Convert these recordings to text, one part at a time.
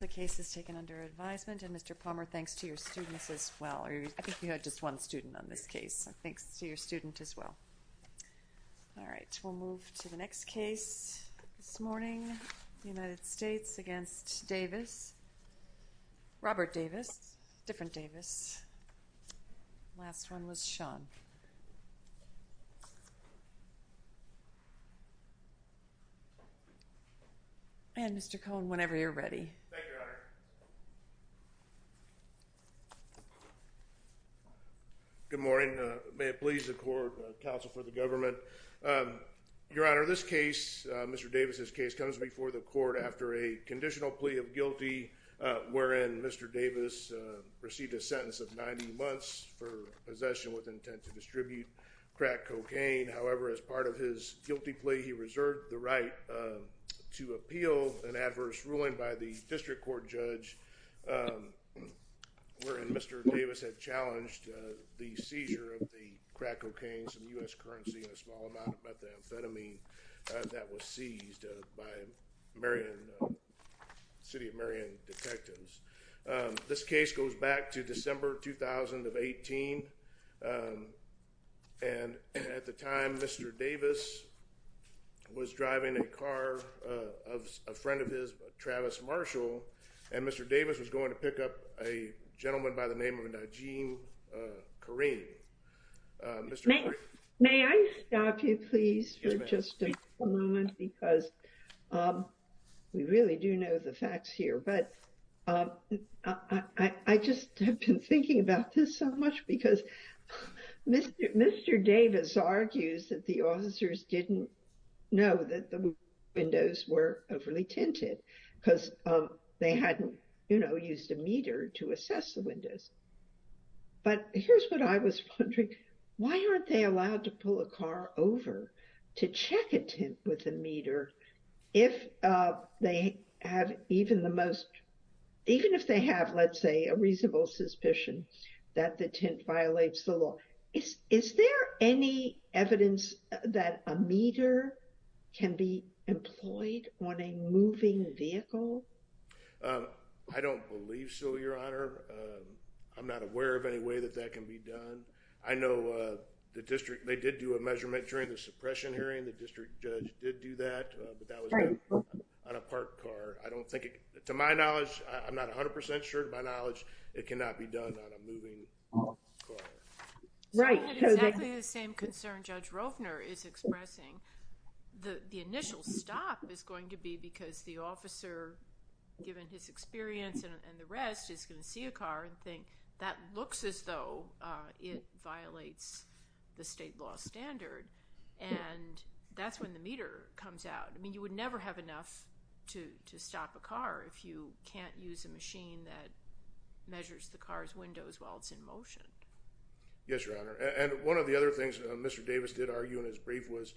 The case is taken under advisement, and Mr. Palmer, thanks to your students as well. I think you had just one student on this case, so thanks to your student as well. All right, we'll move to the next case this morning. United States v. Davis Robert Davis, different Davis. Last one was Sean. And Mr. Cohn, whenever you're ready. Thank you, Your Honor. Good morning. May it please the court, counsel for the government. Your Honor, this case, Mr. Davis' case, comes before the court after a conditional plea of guilty, wherein Mr. Davis received a sentence of 90 months for possession with intent to distribute crack cocaine. However, as part of his guilty plea, he reserved the right to appeal an adverse ruling by the district court judge, wherein Mr. Davis had challenged the seizure of the crack cocaine, some U.S. currency, and a small amount of methamphetamine that was seized by the City of Marion detectives. This case goes back to December 2018, and at the time, Mr. Davis was driving a car of a friend of his, Travis Marshall, and Mr. Davis was going to pick up a gentleman by the name of Najeem Kareem. May I stop you please for just a moment, because we really do know the facts here, but I just have been thinking about this so much because Mr. Davis argues that the officers didn't know that the windows were overly tinted, because they hadn't, you know, used a meter to assess the windows. But here's what I was wondering. Why aren't they allowed to pull a car over to check a tint with a meter if they have even the most, even if they have, let's say, a reasonable suspicion that the tint violates the law? Is there any evidence that a meter can be employed on a moving vehicle? I don't believe so, Your Honor. I'm not aware of any way that that can be done. I know the district, they did do a measurement during the suppression hearing. The district judge did do that. But that was done on a parked car. I don't think, to my knowledge, I'm not 100% sure, to my knowledge, it cannot be done on a moving car. Right. Exactly the same concern Judge Rovner is expressing. The initial stop is going to be because the officer, given his experience and the rest, is going to see a car and think, that looks as though it violates the state law standard. And that's when the meter comes out. I mean, you would never have enough to stop a car if you can't use a machine that measures the car's windows while it's in motion. Yes, Your Honor. And one of the other things Mr. Davis did argue in his brief was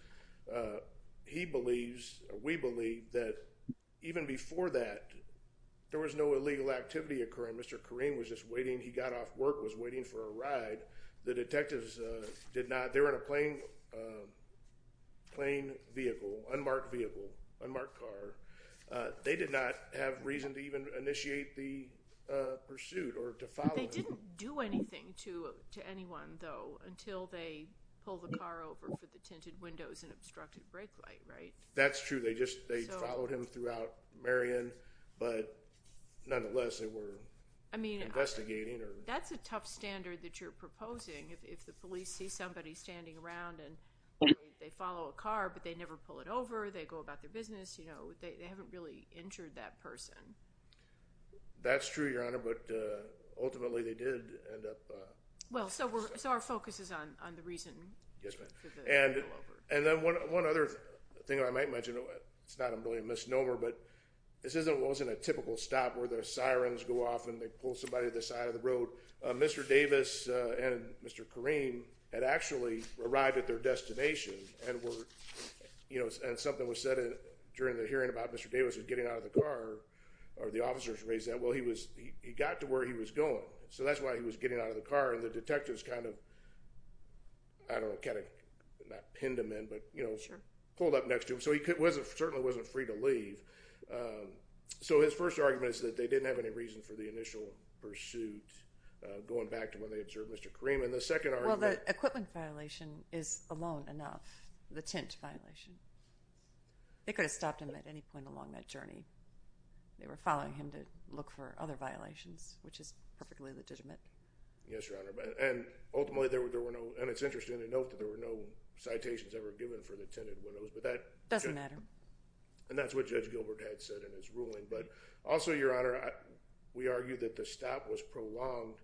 he believes, we believe, that even before that there was no illegal activity occurring. Mr. Korine was just waiting, he got off work, was waiting for a ride. The detectives did not, they were in a plain vehicle, unmarked vehicle, unmarked car. They did not have reason to even initiate the pursuit or to follow him. They didn't do anything to anyone, though, until they pulled the car over for the tinted windows and obstructed brake light, right? That's true. They just, they followed him throughout Marion, but nonetheless they were investigating. That's a tough standard that you're proposing if the police see somebody standing around and they follow a car but they never pull it over, they go about their business, you know, they haven't really injured that person. That's true, Your Honor, but ultimately they did end up... Well, so our focus is on the reason. Yes, ma'am. And then one other thing I might mention, it's not a misnomer, but this isn't a typical stop where the sirens go off and they pull somebody to the side of the road. Mr. Davis and Mr. Kareem had actually arrived at their destination and were, you know, and something was said during the hearing about Mr. Davis getting out of the car, or the officers raised that, well, he got to where he was going. So that's why he was getting out of the car and the detectives kind of, I don't know, kind of pinned him in, but, you know, pulled up next to him. So he certainly wasn't free to leave. So his first argument is that they didn't have any reason for the initial pursuit, going back to when they observed Mr. Kareem. And the second argument... Well, the equipment violation is alone enough, the tint violation. They could have stopped him at any point along that journey. They were following him to look for other violations, which is perfectly legitimate. Yes, Your Honor, and ultimately there were no, and it's interesting to note that there were no citations ever given for the tinted windows, but that... Doesn't matter. And that's what Judge Gilbert had said in his ruling, but also, Your Honor, we argue that the stop was prolonged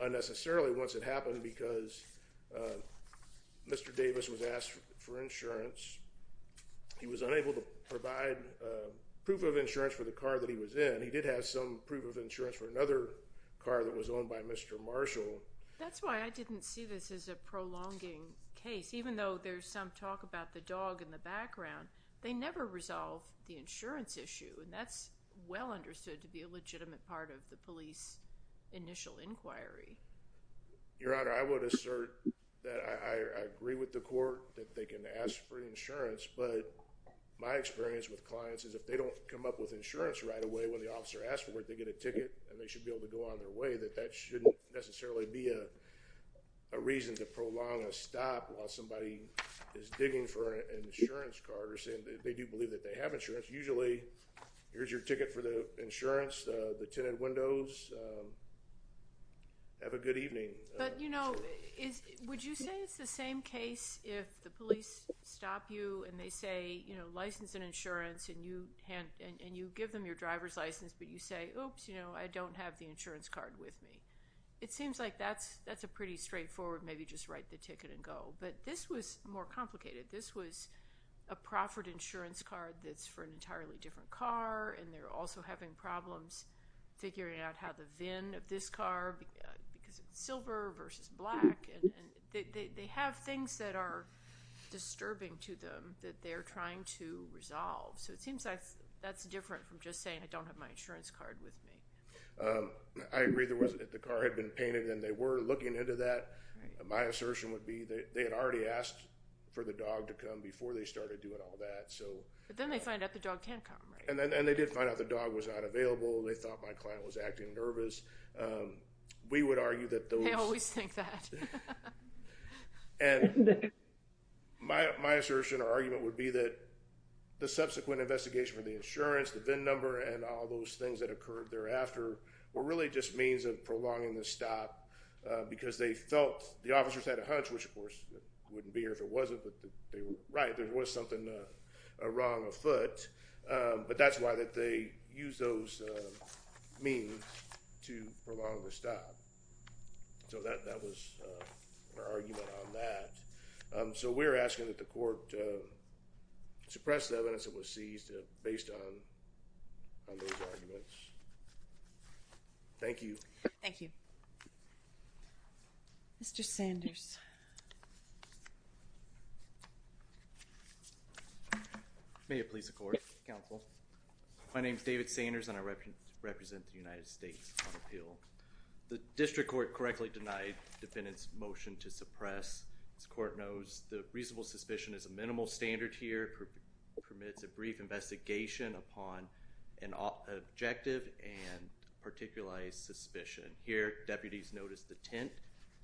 unnecessarily once it happened because Mr. Davis was asked for insurance. He was unable to provide proof of insurance for the car that he was in. He did have some proof of insurance for another car that was owned by Mr. Marshall. That's why I didn't see this as a prolonging case, even though there's some talk about the dog in the background. They never resolve the insurance issue, and that's well understood to be a legitimate part of the police initial inquiry. Your Honor, I would assert that I agree with the court that they can ask for insurance, but my experience with clients is if they don't come up with insurance right away when the officer asks for it, they get a ticket and they should be able to go on their way, that that shouldn't necessarily be a reason to prolong a stop while somebody is digging for an insurance card or saying that they do believe that they have insurance. Usually, here's your ticket for the insurance, the tinted windows, have a good evening. But, you know, would you say it's the same case if the police stop you and they say, you know, license and insurance, and you give them your driver's license, but you say oops, you know, I don't have the insurance card with me. It seems like that's a pretty straightforward maybe just write the ticket and go, but this was more complicated. This was a proffered insurance card that's for an entirely different car, and they're also having problems figuring out how the VIN of this car, because it's silver versus black, and they have things that are disturbing to them that they're trying to resolve. So it seems like that's different from just saying I don't have my insurance card with me. I agree the car had been painted and they were looking into that. My client had already asked for the dog to come before they started doing all that. But then they find out the dog can't come. And they did find out the dog was not available. They thought my client was acting nervous. They always think that. My assertion or argument would be that the subsequent investigation for the insurance, the VIN number, and all those things that occurred thereafter were really just means of prolonging the stop, because they wouldn't be here if it wasn't, but they were right. There was something wrong afoot, but that's why they used those means to prolong the stop. So that was our argument on that. So we're asking that the court suppress the evidence that was seized based on those arguments. Thank you. Thank you. Mr. Sanders. May it please the Court. Counsel. My name is David Sanders and I represent the United States on appeal. The District Court correctly denied the defendant's motion to suppress. As the Court knows, the reasonable suspicion is a minimal standard here. It permits a brief investigation upon an objective and particularized suspicion. Here, deputies noticed the tint.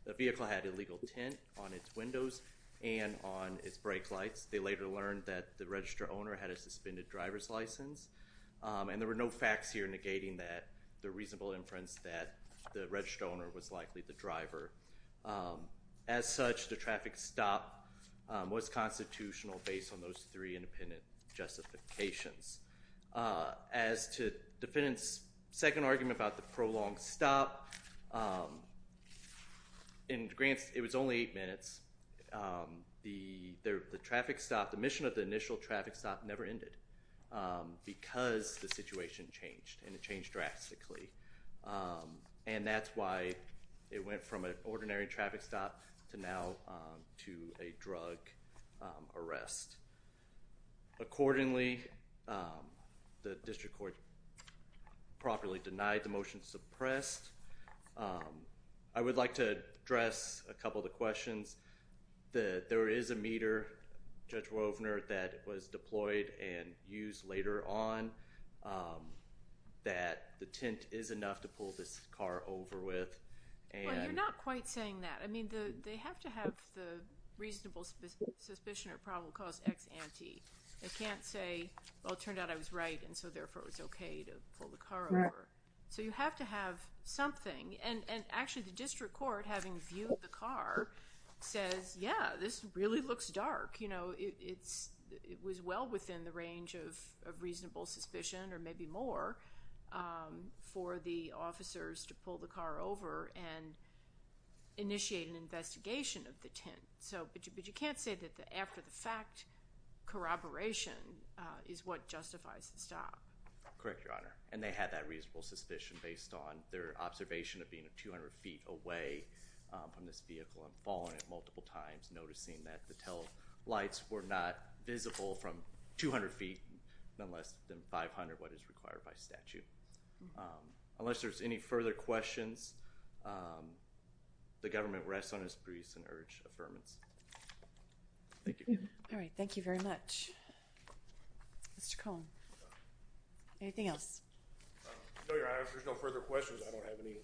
The vehicle had illegal tint on its windows and on its brake lights. They later learned that the register owner had a suspended driver's license, and there were no facts here negating that the reasonable inference that the register owner was likely the driver. As such, the traffic stop was constitutional based on those three independent justifications. As to the defendant's second argument about the prolonged stop, in Grant's, it was only eight minutes. The traffic stop, the mission of the initial traffic stop never ended because the situation changed, and it changed drastically. And that's why it went from an ordinary traffic stop to now to a drug arrest. Accordingly, the District Court properly denied the motion suppressed. I would like to address a couple of the questions. There is a meter, Judge Wovner, that was deployed and used later on that the tint is enough to pull this car over with. You're not quite saying that. I mean, they have to have the reasonable suspicion or probable cause ex ante. They can't say, well, it turned out I was right, and so therefore it's okay to pull the car over. So you have to have something. And actually, the District Court, having viewed the car, says, yeah, this really looks dark. It was well within the range of reasonable suspicion, or maybe more, for the officers to pull the car over and initiate an investigation of the tint. But you can't say that the after-the-fact corroboration is what justifies the stop. Correct, Your Honor. And they had that reasonable suspicion based on their observation of being 200 feet away from this vehicle and falling it multiple times, noticing that the taillights were not visible from 200 feet and less than 500, what is required by statute. Unless there's any further questions, the government rests on its briefs and urge affirmance. Thank you. All right. Thank you very much. Mr. Cohn. Anything else? No, Your Honor. If there's no further questions, I don't have any.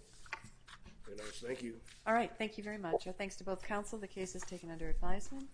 Thank you. All right. Thank you very much. Thanks to both counsel. The case is taken under advisement.